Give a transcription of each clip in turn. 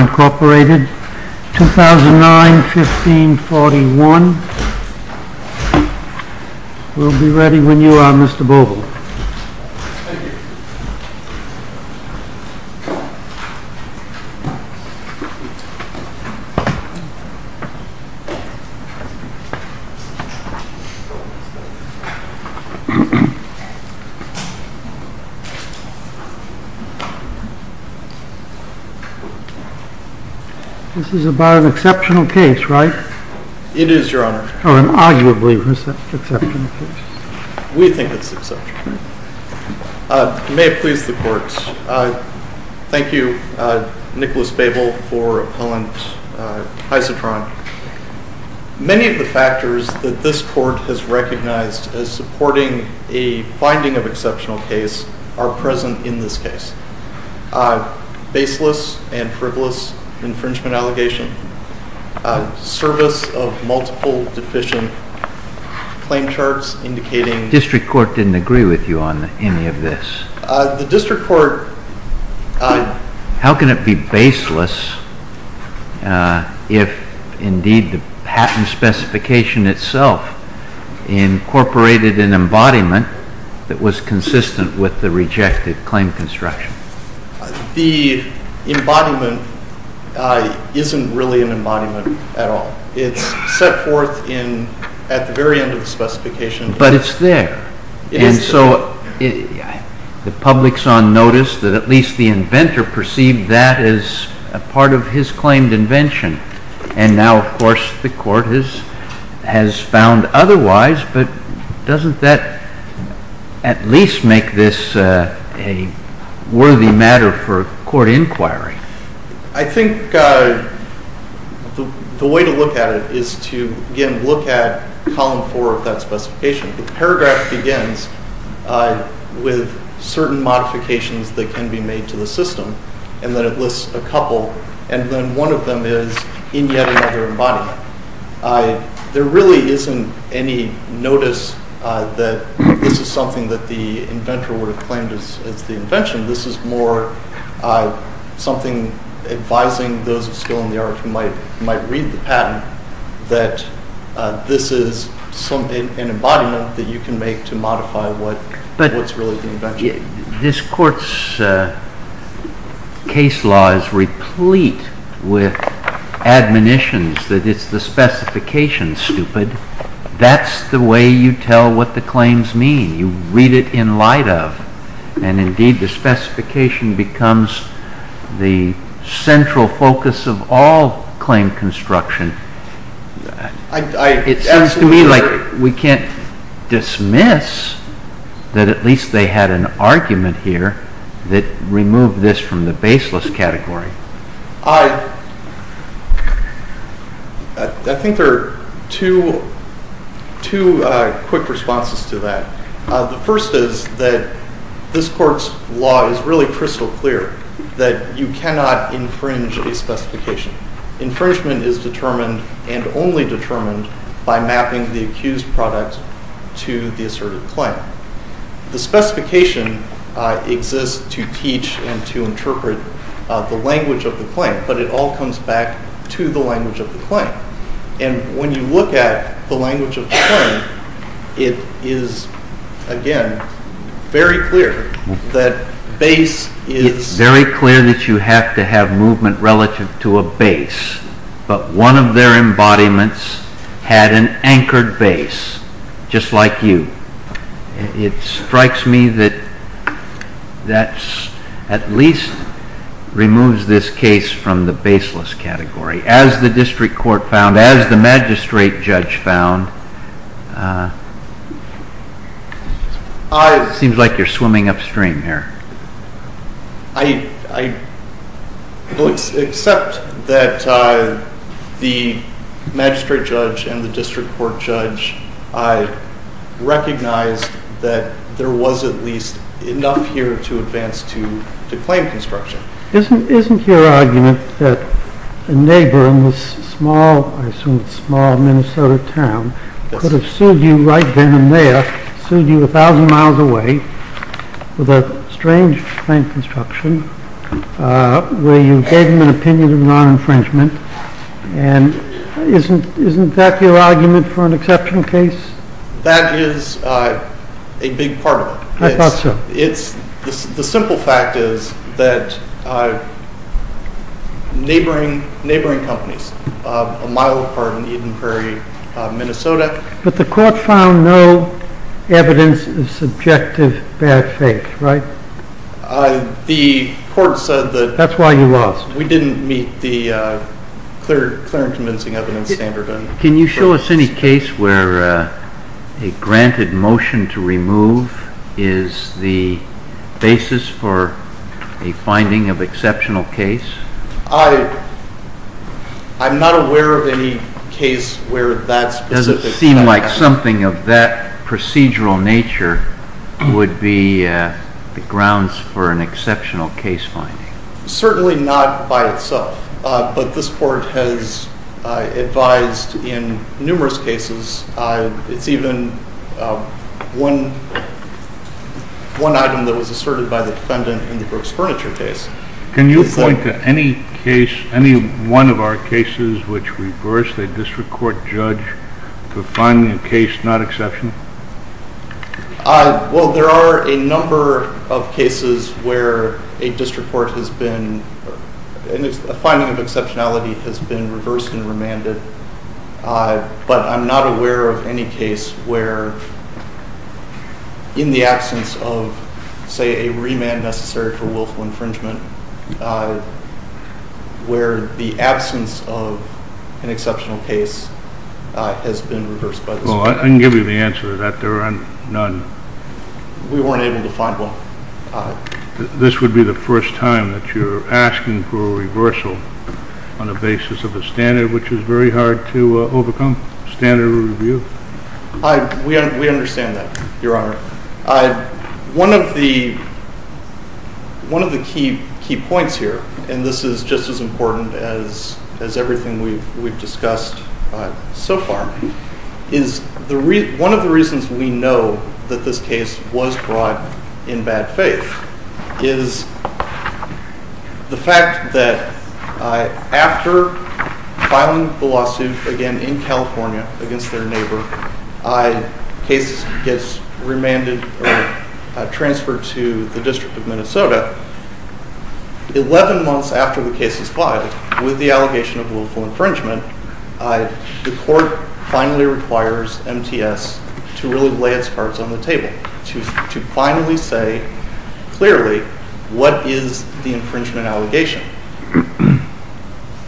Incorporated, 2009-15-41. We will be ready when you are, Mr. Bobl. This is about an exceptional case, right? It is, Your Honor. Or an arguably exceptional case. We think it's exceptional. You may have pleased the Court. Thank you, Nicholas Babel, for appellant Hysitron. Many of the factors that this Court has recognized as supporting a finding of exceptional case are present in this case. Baseless and frivolous infringement allegation, service of multiple deficient claim charts indicating… The District Court didn't agree with you on any of this. The District Court… How can it be baseless if indeed the patent specification itself incorporated an embodiment that was consistent with the rejected claim construction? The embodiment isn't really an embodiment at all. It's set forth at the very end of the specification. But it's there. And so the public saw notice that at least the inventor perceived that as a part of his claimed invention. And now, of course, the Court has found otherwise, but doesn't that at least make this a worthy matter for Court inquiry? I think the way to look at it is to, again, look at Column 4 of that specification. The paragraph begins with certain modifications that can be made to the system, and then it lists a couple. And then one of them is in yet another embodiment. There really isn't any notice that this is something that the inventor would have claimed as the invention. This is more something advising those of skill in the art who might read the patent that this is an embodiment that you can make to modify what's really the invention. This Court's case law is replete with admonitions that it's the specification, stupid. That's the way you tell what the claims mean. You read it in light of. And indeed, the specification becomes the central focus of all claim construction. It seems to me like we can't dismiss that at least they had an argument here that removed this from the baseless category. I think there are two quick responses to that. The first is that this Court's law is really crystal clear that you cannot infringe a specification. Infringement is determined and only determined by mapping the accused product to the asserted claim. The specification exists to teach and to interpret the language of the claim, but it all comes back to the language of the claim. And when you look at the language of the claim, it is, again, very clear that base is... It strikes me that that at least removes this case from the baseless category. As the District Court found, as the Magistrate Judge found, it seems like you're swimming upstream here. I accept that the Magistrate Judge and the District Court Judge recognized that there was at least enough here to advance to claim construction. Isn't your argument that a neighbor in this small, I assume small, Minnesota town could have sued you right down there, sued you a thousand miles away, with a strange claim construction, where you gave them an opinion of non-infringement? And isn't that your argument for an exception case? That is a big part of it. I thought so. The simple fact is that neighboring companies, a mile apart in Eden Prairie, Minnesota... But the court found no evidence of subjective bad faith, right? The court said that we didn't meet the clear and convincing evidence standard. Can you show us any case where a granted motion to remove is the basis for a finding of exceptional case? I'm not aware of any case where that specific... It doesn't seem like something of that procedural nature would be the grounds for an exceptional case finding. Certainly not by itself, but this court has advised in numerous cases. It's even one item that was asserted by the defendant in the Brooks Furniture case. Can you point to any case, any one of our cases, which reversed a district court judge for finding a case not exceptional? Well, there are a number of cases where a district court has been... A finding of exceptionality has been reversed and remanded. But I'm not aware of any case where, in the absence of, say, a remand necessary for willful infringement, where the absence of an exceptional case has been reversed by this court. I can give you the answer to that. There are none. We weren't able to find one. This would be the first time that you're asking for a reversal on the basis of a standard which is very hard to overcome, standard of review? We understand that, Your Honor. One of the key points here, and this is just as important as everything we've discussed so far, is one of the reasons we know that this case was brought in bad faith is the fact that after filing the lawsuit again in California against their neighbor, cases get remanded or transferred to the District of Minnesota. Eleven months after the case is filed, with the allegation of willful infringement, the court finally requires MTS to really lay its cards on the table, to finally say clearly what is the infringement allegation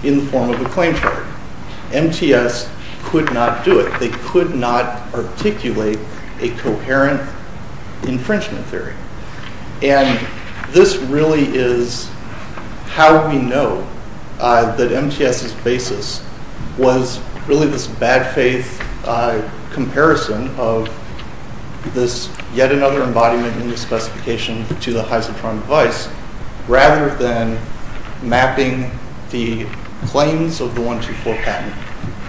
in the form of a claim charge. MTS could not do it. They could not articulate a coherent infringement theory. And this really is how we know that MTS's basis was really this bad faith comparison of this yet another embodiment in the specification to the Heisel-Tron device, rather than mapping the claims of the 124 patent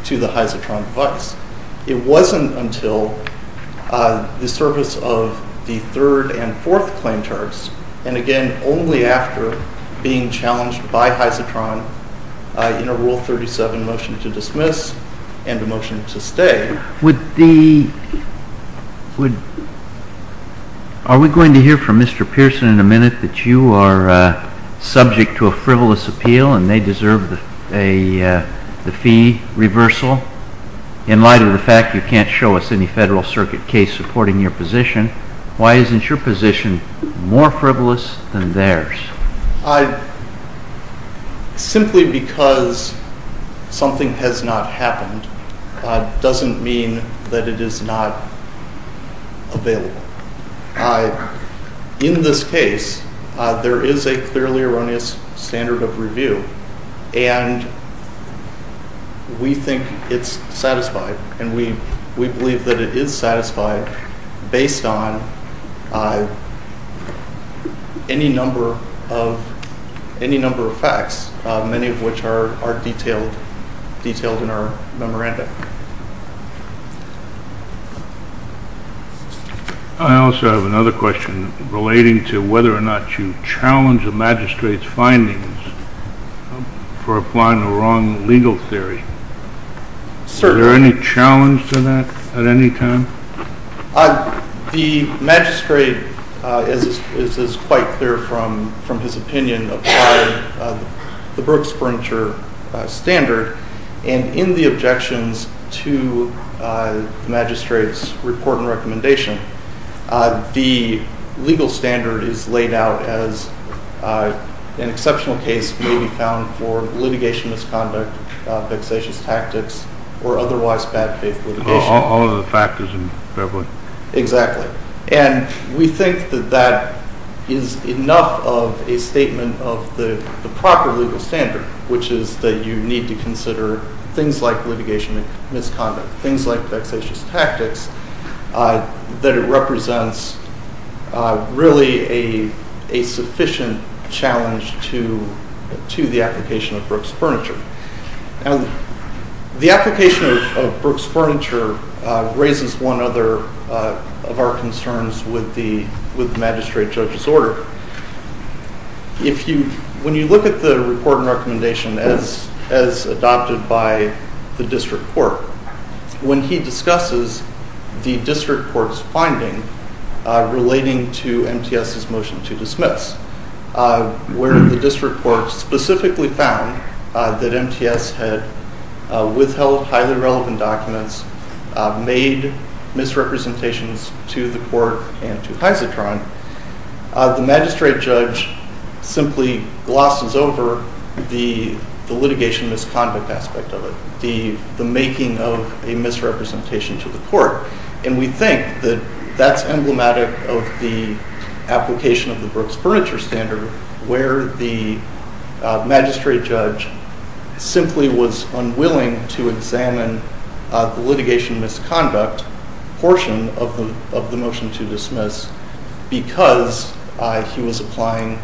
to the Heisel-Tron device. It wasn't until the service of the third and fourth claim charges, and again only after being challenged by Heisel-Tron in a Rule 37 motion to dismiss and a motion to stay. Are we going to hear from Mr. Pearson in a minute that you are subject to a frivolous appeal and they deserve the fee reversal? In light of the fact you can't show us any Federal Circuit case supporting your position, why isn't your position more frivolous than theirs? Simply because something has not happened doesn't mean that it is not available. In this case, there is a clearly erroneous standard of review, and we think it's satisfied, and we believe that it is satisfied based on any number of facts, many of which are detailed in our memorandum. I also have another question relating to whether or not you challenge the magistrate's findings for applying the wrong legal theory. Is there any challenge to that at any time? The magistrate, as is quite clear from his opinion, applied the Brooks Furniture Standard, and in the objections to the magistrate's report and recommendation, the legal standard is laid out as an exceptional case may be found for litigation misconduct, vexatious tactics, or otherwise bad faith litigation. All of the factors in fair play. Exactly. And we think that that is enough of a statement of the proper legal standard, which is that you need to consider things like litigation misconduct, things like vexatious tactics, that it represents really a sufficient challenge to the application of Brooks Furniture. The application of Brooks Furniture raises one other of our concerns with the magistrate judge's order. When you look at the report and recommendation as adopted by the district court, when he discusses the district court's finding relating to MTS's motion to dismiss, where the district court specifically found that MTS had withheld highly relevant documents, made misrepresentations to the court and to Hyzatron, the magistrate judge simply glosses over the litigation misconduct aspect of it, the making of a misrepresentation to the court. And we think that that's emblematic of the application of the Brooks Furniture standard, where the magistrate judge simply was unwilling to examine the litigation misconduct portion of the motion to dismiss because he was applying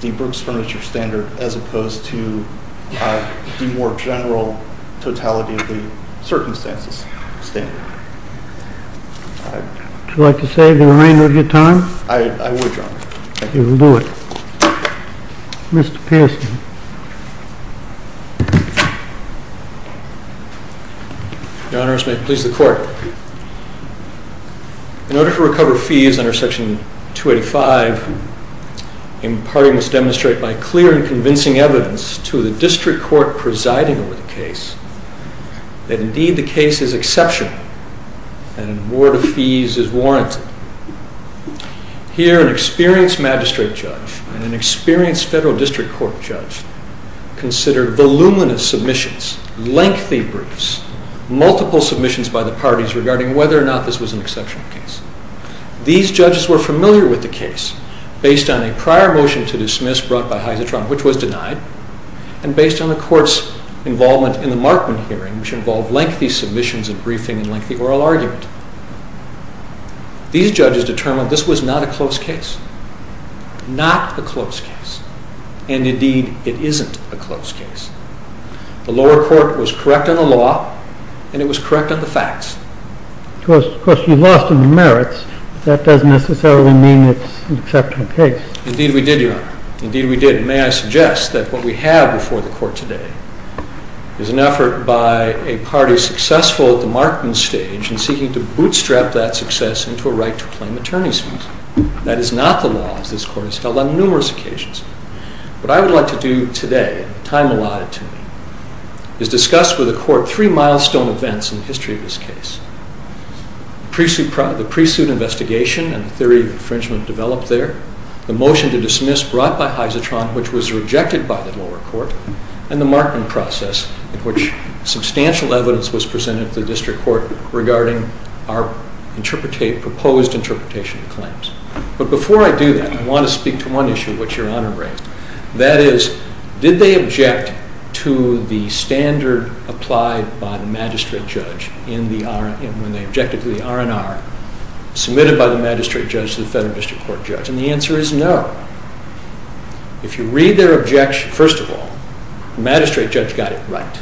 the Brooks Furniture standard as opposed to the more general totality of the circumstances standard. Would you like to say the remainder of your time? I would, Your Honor. Okay, we'll do it. Mr. Pierson. Your Honors, may it please the court. In order to recover fees under Section 285, a party must demonstrate by clear and convincing evidence to the district court presiding over the case that indeed the case is exceptional and an award of fees is warranted. Here, an experienced magistrate judge and an experienced federal district court judge considered voluminous submissions, lengthy briefs, multiple submissions by the parties regarding whether or not this was an exceptional case. These judges were familiar with the case based on a prior motion to dismiss brought by Hyzatron, which was denied, and based on the court's involvement in the Markman hearing, which involved lengthy submissions and briefing and lengthy oral argument. These judges determined this was not a close case, not a close case, and indeed it isn't a close case. The lower court was correct on the law and it was correct on the facts. Of course, you lost in the merits. That doesn't necessarily mean it's an exceptional case. Indeed we did, Your Honor. Indeed we did, and may I suggest that what we have before the court today is an effort by a party successful at the Markman stage in seeking to bootstrap that success into a right to claim attorney's fees. That is not the law as this court has held on numerous occasions. What I would like to do today, time allotted to me, is discuss with the court three milestone events in the history of this case. The pre-suit investigation and the theory of infringement developed there, the motion to dismiss brought by Hyzatron, which was rejected by the lower court, and the Markman process in which substantial evidence was presented to the district court regarding our proposed interpretation of claims. But before I do that, I want to speak to one issue which Your Honor raised. That is, did they object to the standard applied by the magistrate judge when they objected to the R&R submitted by the magistrate judge to the federal district court judge? And the answer is no. If you read their objection, first of all, the magistrate judge got it right.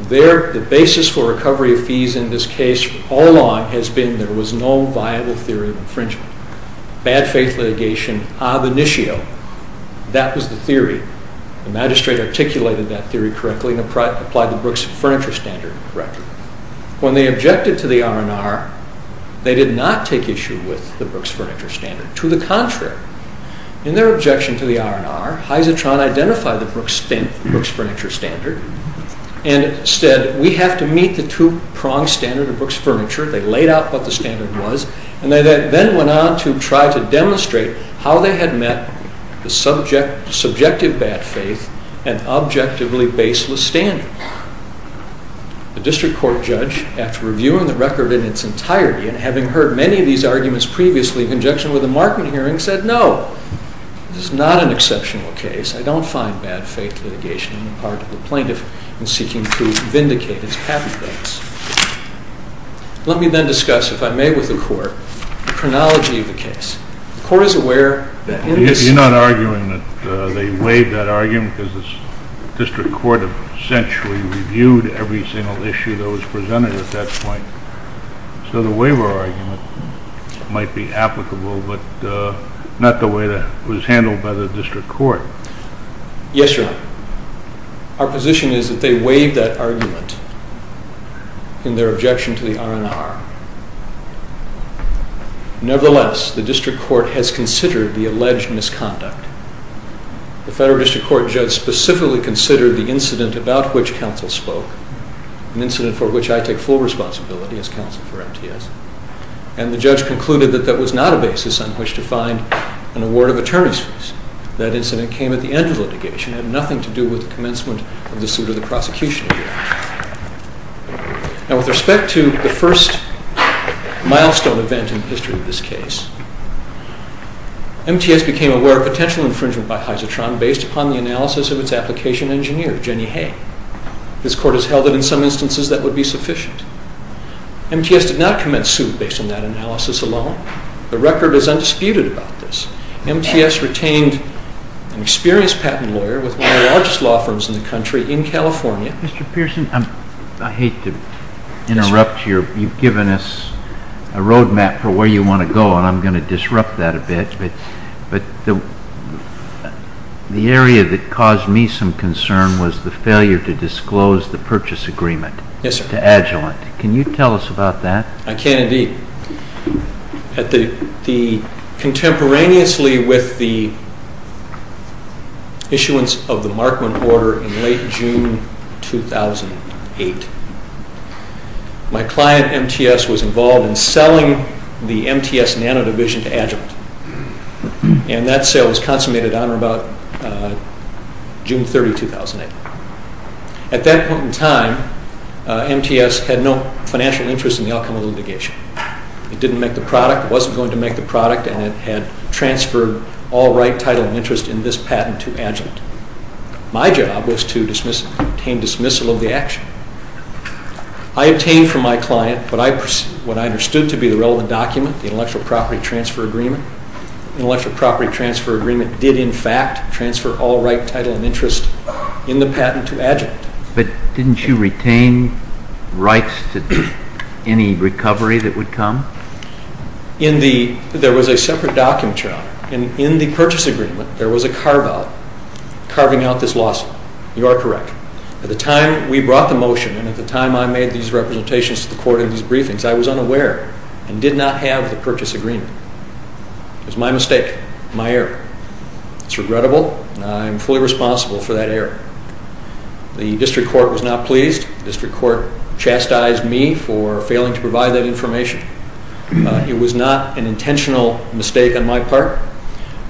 The basis for recovery of fees in this case all along has been there was no viable theory of infringement. Bad faith litigation, ab initio, that was the theory. The magistrate articulated that theory correctly and applied the Brooks Furniture Standard correctly. When they objected to the R&R, they did not take issue with the Brooks Furniture Standard. To the contrary, in their objection to the R&R, Hisatron identified the Brooks Furniture Standard and said, we have to meet the two-pronged standard of Brooks Furniture. They laid out what the standard was, and then went on to try to demonstrate how they had met the subjective bad faith and objectively baseless standard. The district court judge, after reviewing the record in its entirety and having heard many of these arguments previously in conjunction with the Markman hearing, said, no, this is not an exceptional case. I don't find bad faith litigation in the part of the plaintiff in seeking to vindicate his patent rights. Let me then discuss, if I may with the court, the chronology of the case. The court is aware that in this case- You're not arguing that they waived that argument because the district court essentially reviewed every single issue that was presented at that point. So the waiver argument might be applicable, but not the way that it was handled by the district court. Yes, Your Honor. Our position is that they waived that argument in their objection to the R&R. Nevertheless, the district court has considered the alleged misconduct. The federal district court judge specifically considered the incident about which counsel spoke, an incident for which I take full responsibility as counsel for MTS, and the judge concluded that that was not a basis on which to find an award of attorney's fees. That incident came at the end of litigation. It had nothing to do with the commencement of the suit or the prosecution. Now, with respect to the first milestone event in the history of this case, MTS became aware of potential infringement by Hyzotron based upon the analysis of its application engineer, Jenny Hay. This court has held that in some instances that would be sufficient. MTS did not commence suit based on that analysis alone. The record is undisputed about this. MTS retained an experienced patent lawyer with one of the largest law firms in the country in California. Mr. Pearson, I hate to interrupt you. You've given us a roadmap for where you want to go, and I'm going to disrupt that a bit. But the area that caused me some concern was the failure to disclose the purchase agreement to Agilent. Can you tell us about that? I can, indeed. Contemporaneously with the issuance of the Markman order in late June 2008, my client, MTS, was involved in selling the MTS Nano Division to Agilent. And that sale was consummated on or about June 30, 2008. At that point in time, MTS had no financial interest in the outcome of the litigation. It didn't make the product, wasn't going to make the product, and it had transferred all right, title, and interest in this patent to Agilent. My job was to obtain dismissal of the action. I obtained from my client what I understood to be the relevant document, the Intellectual Property Transfer Agreement. The Intellectual Property Transfer Agreement did, in fact, transfer all right, title, and interest in the patent to Agilent. But didn't you retain rights to any recovery that would come? There was a separate document job. And in the purchase agreement, there was a carve-out, carving out this lawsuit. You are correct. At the time we brought the motion, and at the time I made these representations to the court in these briefings, I was unaware and did not have the purchase agreement. It was my mistake, my error. It's regrettable, and I am fully responsible for that error. The district court was not pleased. The district court chastised me for failing to provide that information. It was not an intentional mistake on my part.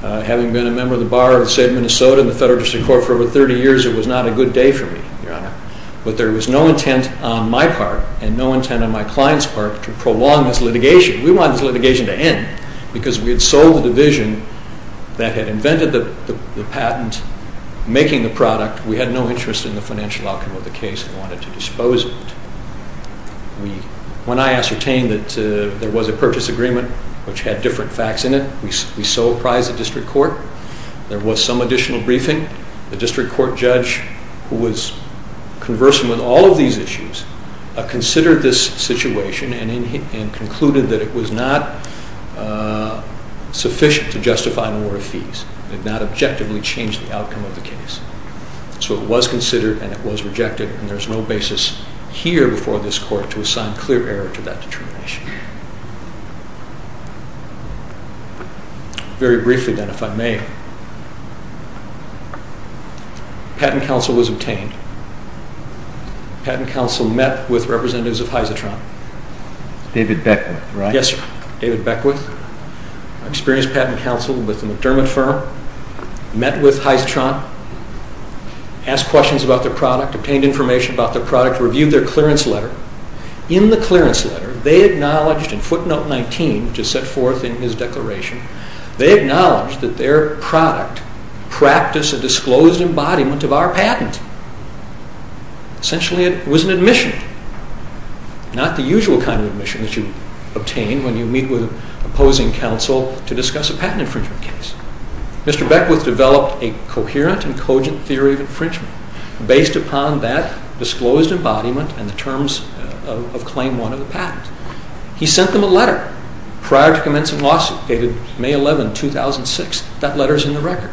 Having been a member of the Bar of the State of Minnesota and the Federal District Court for over 30 years, it was not a good day for me, Your Honor. But there was no intent on my part and no intent on my client's part to prolong this litigation. We wanted this litigation to end because we had sold the division that had invented the patent, making the product. We had no interest in the financial outcome of the case. We wanted to dispose of it. When I ascertained that there was a purchase agreement, which had different facts in it, we so apprised the district court. There was some additional briefing. The district court judge, who was conversant with all of these issues, considered this situation and concluded that it was not sufficient to justify an order of fees. It did not objectively change the outcome of the case. So it was considered and it was rejected. There is no basis here before this court to assign clear error to that determination. Patent counsel was obtained. Patent counsel met with representatives of Hyzotron. David Beckwith, right? Yes, sir. David Beckwith. I experienced patent counsel with the McDermott firm. Met with Hyzotron. Asked questions about their product. Obtained information about their product. Reviewed their clearance letter. In the clearance letter, they acknowledged in footnote 19, which is set forth in his declaration, they acknowledged that their product practiced a disclosed embodiment of our patent. Essentially, it was an admission. Not the usual kind of admission that you obtain when you meet with opposing counsel to discuss a patent infringement case. Mr. Beckwith developed a coherent and cogent theory of infringement based upon that disclosed embodiment and the terms of claim one of the patent. He sent them a letter prior to commencing lawsuit dated May 11, 2006. That letter is in the record.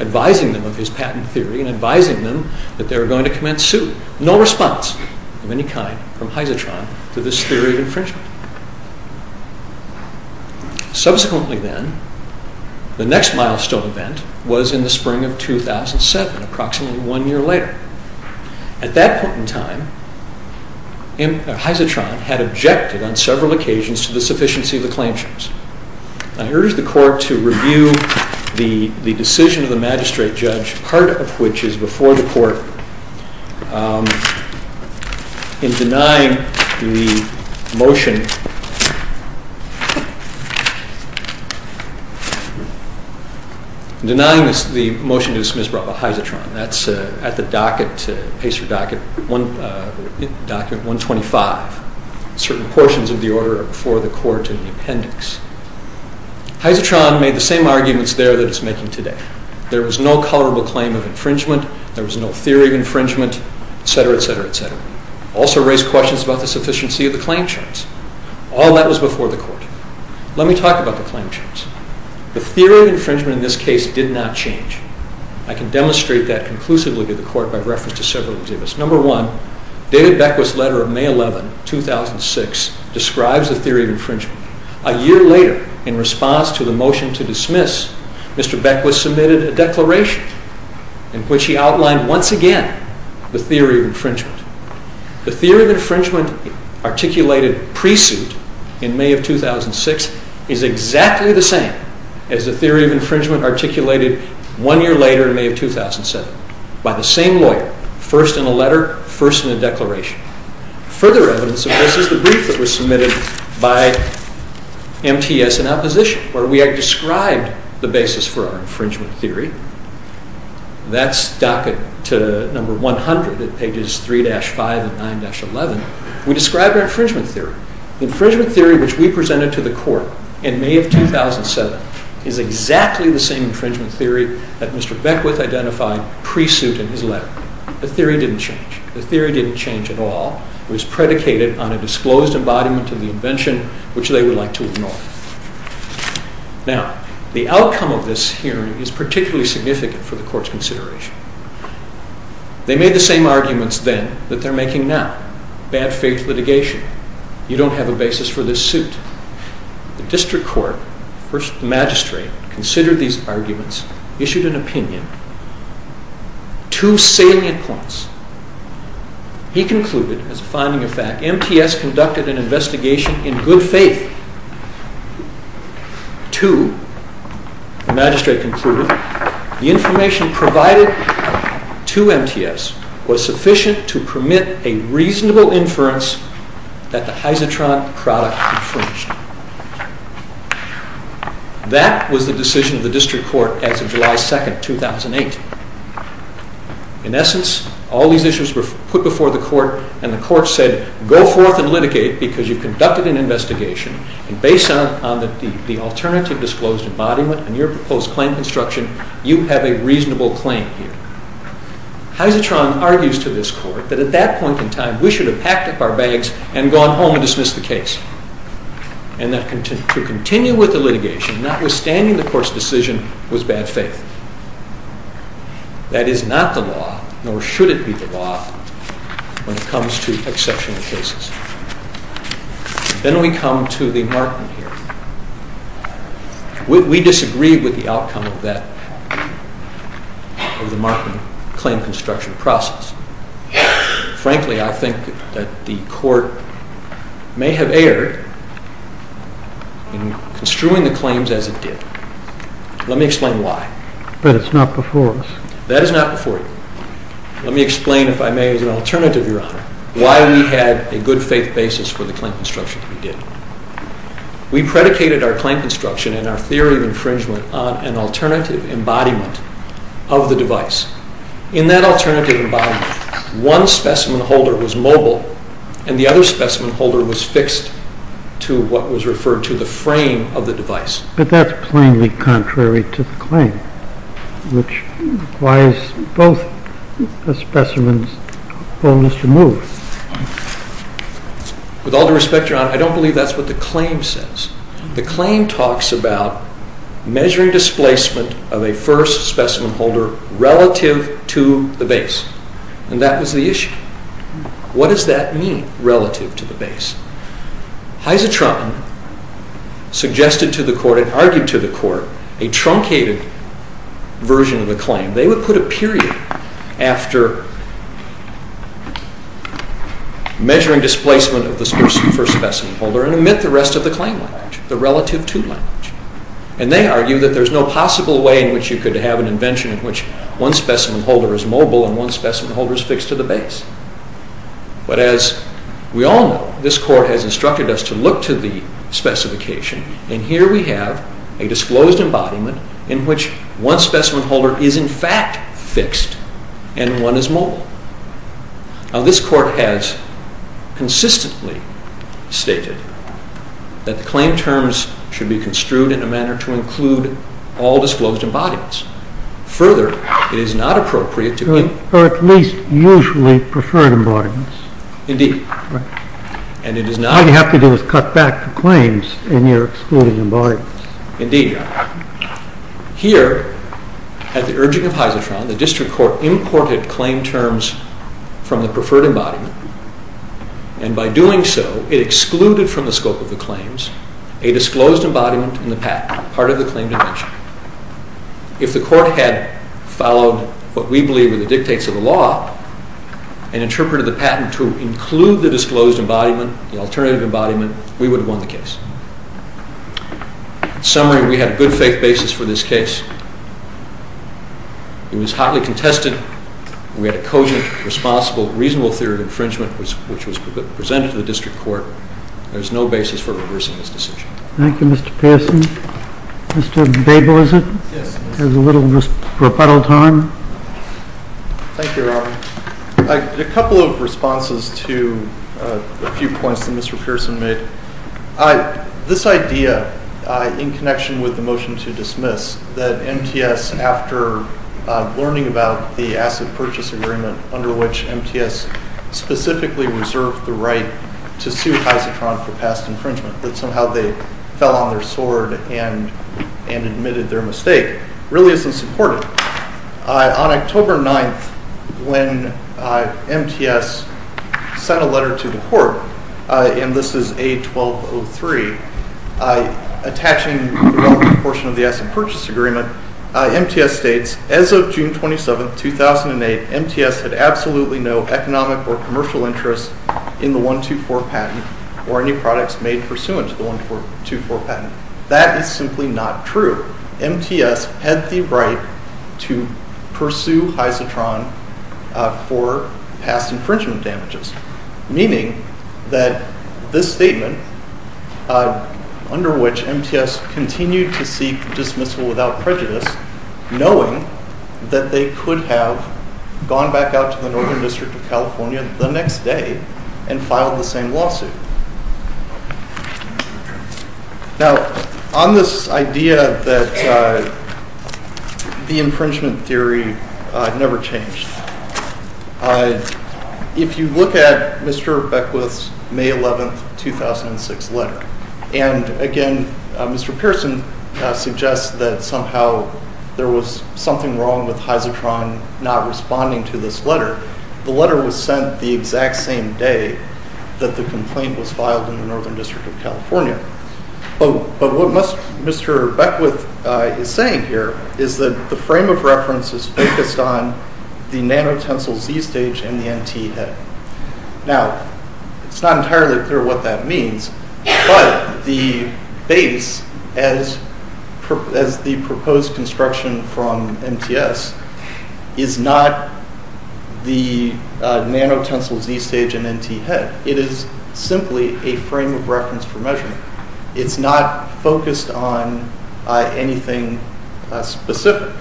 Advising them of his patent theory and advising them that they were going to commence suit. No response of any kind from Hyzotron to this theory of infringement. Subsequently then, the next milestone event was in the spring of 2007. Approximately one year later. At that point in time, Hyzotron had objected on several occasions to the sufficiency of the claims. I urge the court to review the decision of the magistrate judge, part of which is before the court, in denying the motion to dismiss Robert Hyzotron. That's at the docket, pacer docket, document 125. Certain portions of the order are before the court in the appendix. Hyzotron made the same arguments there that it's making today. There was no colorable claim of infringement. There was no theory of infringement, etc., etc., etc. Also raised questions about the sufficiency of the claim charge. All that was before the court. Let me talk about the claim charge. The theory of infringement in this case did not change. I can demonstrate that conclusively to the court by reference to several examples. Number one, David Beckwith's letter of May 11, 2006, describes the theory of infringement. A year later, in response to the motion to dismiss, Mr. Beckwith submitted a declaration in which he outlined once again the theory of infringement. The theory of infringement articulated pre-suit in May of 2006 is exactly the same as the theory of infringement articulated one year later in May of 2007 by the same lawyer, first in a letter, first in a declaration. Further evidence of this is the brief that was submitted by MTS in opposition, where we had described the basis for our infringement theory. That's docket to number 100 at pages 3-5 and 9-11. We described our infringement theory. The infringement theory which we presented to the court in May of 2007 is exactly the same infringement theory that Mr. Beckwith identified pre-suit in his letter. The theory didn't change. The theory didn't change at all. It was predicated on a disclosed embodiment of the invention which they would like to ignore. Now, the outcome of this hearing is particularly significant for the court's consideration. They made the same arguments then that they're making now. Bad faith litigation. You don't have a basis for this suit. The district court, the magistrate, considered these arguments, issued an opinion. Two salient points. He concluded, as a finding of fact, MTS conducted an investigation in good faith to, the magistrate concluded, the information provided to MTS was sufficient to permit a reasonable inference that the Hyzotron product infringed. That was the decision of the district court as of July 2nd, 2008. In essence, all these issues were put before the court and the court said go forth and litigate because you've conducted an investigation and based on the alternative disclosed embodiment and your proposed claim construction, you have a reasonable claim here. Hyzotron argues to this court that at that point in time we should have packed up our bags and gone home and dismissed the case. And that to continue with the litigation, notwithstanding the court's decision, was bad faith. That is not the law, nor should it be the law, when it comes to exceptional cases. Then we come to the marking here. We disagree with the outcome of that, of the marking claim construction process. Frankly, I think that the court may have erred in construing the claims as it did. Let me explain why. But it's not before us. That is not before you. Let me explain, if I may, as an alternative, Your Honor, why we had a good faith basis for the claim construction that we did. We predicated our claim construction and our theory of infringement on an alternative embodiment of the device. In that alternative embodiment, one specimen holder was mobile and the other specimen holder was fixed to what was referred to the frame of the device. But that's plainly contrary to the claim, which requires both specimens almost removed. With all due respect, Your Honor, I don't believe that's what the claim says. The claim talks about measuring displacement of a first specimen holder relative to the base. And that was the issue. What does that mean, relative to the base? Hyzotron suggested to the court, and argued to the court, a truncated version of the claim. They would put a period after measuring displacement of the first specimen holder and omit the rest of the claim language, the relative to language. And they argue that there's no possible way in which you could have an invention in which one specimen holder is mobile and one specimen holder is fixed to the base. But as we all know, this court has instructed us to look to the specification. And here we have a disclosed embodiment in which one specimen holder is in fact fixed and one is mobile. Now, this court has consistently stated that the claim terms should be construed in a manner to include all disclosed embodiments. Further, it is not appropriate to include... Or at least usually preferred embodiments. Indeed. Right. And it is not... All you have to do is cut back the claims in your excluded embodiments. Indeed. Here, at the urging of Hyzotron, the district court imported claim terms from the preferred embodiment. And by doing so, it excluded from the scope of the claims a disclosed embodiment in the patent, part of the claim dimension. If the court had followed what we believe are the dictates of the law and interpreted the patent to include the disclosed embodiment, the alternative embodiment, we would have won the case. In summary, we had a good faith basis for this case. It was hotly contested. We had a cogent, responsible, reasonable theory of infringement which was presented to the district court. There is no basis for reversing this decision. Thank you, Mr. Pearson. Mr. Babel, is it? Yes. There's a little rebuttal time. Thank you, Robert. A couple of responses to a few points that Mr. Pearson made. This idea, in connection with the motion to dismiss, that MTS, after learning about the asset purchase agreement under which MTS specifically reserved the right to sue Hyzotron for past infringement, that somehow they fell on their sword and admitted their mistake, really isn't supported. On October 9th, when MTS sent a letter to the court, and this is A1203, attaching the relevant portion of the asset purchase agreement, MTS states, as of June 27th, 2008, MTS had absolutely no economic or commercial interest in the 124 patent or any products made pursuant to the 124 patent. That is simply not true. MTS had the right to pursue Hyzotron for past infringement damages, meaning that this statement, under which MTS continued to seek dismissal without prejudice, knowing that they could have gone back out to the Northern District of California the next day and filed the same lawsuit. Now, on this idea that the infringement theory never changed, if you look at Mr. Beckwith's May 11th, 2006 letter, and again, Mr. Pearson suggests that somehow there was something wrong with Hyzotron not responding to this letter. The letter was sent the exact same day that the complaint was filed in the Northern District of California. But what Mr. Beckwith is saying here is that the frame of reference is focused on the nano-tensile Z stage and the NT head. Now, it's not entirely clear what that means, but the base, as the proposed construction from MTS, is not the nano-tensile Z stage and NT head. It is simply a frame of reference for measurement. It's not focused on anything specific.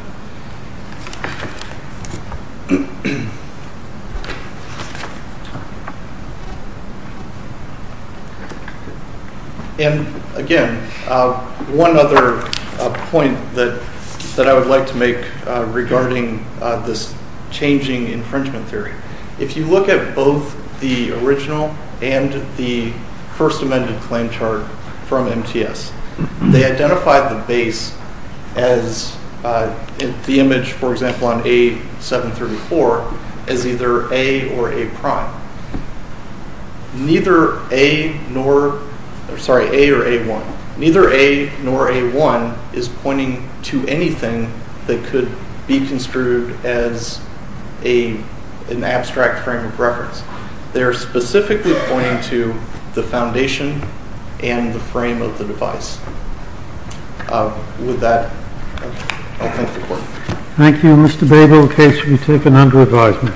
And again, one other point that I would like to make regarding this changing infringement theory. If you look at both the original and the first amended claim chart from MTS, they identified the base as the image, for example, on A734, as either A or A'. Neither A nor, sorry, A or A1. Neither A nor A1 is pointing to anything that could be construed as an abstract frame of reference. They are specifically pointing to the foundation and the frame of the device. With that, I'll thank the Court. Thank you, Mr. Babel. The case will be taken under advisement.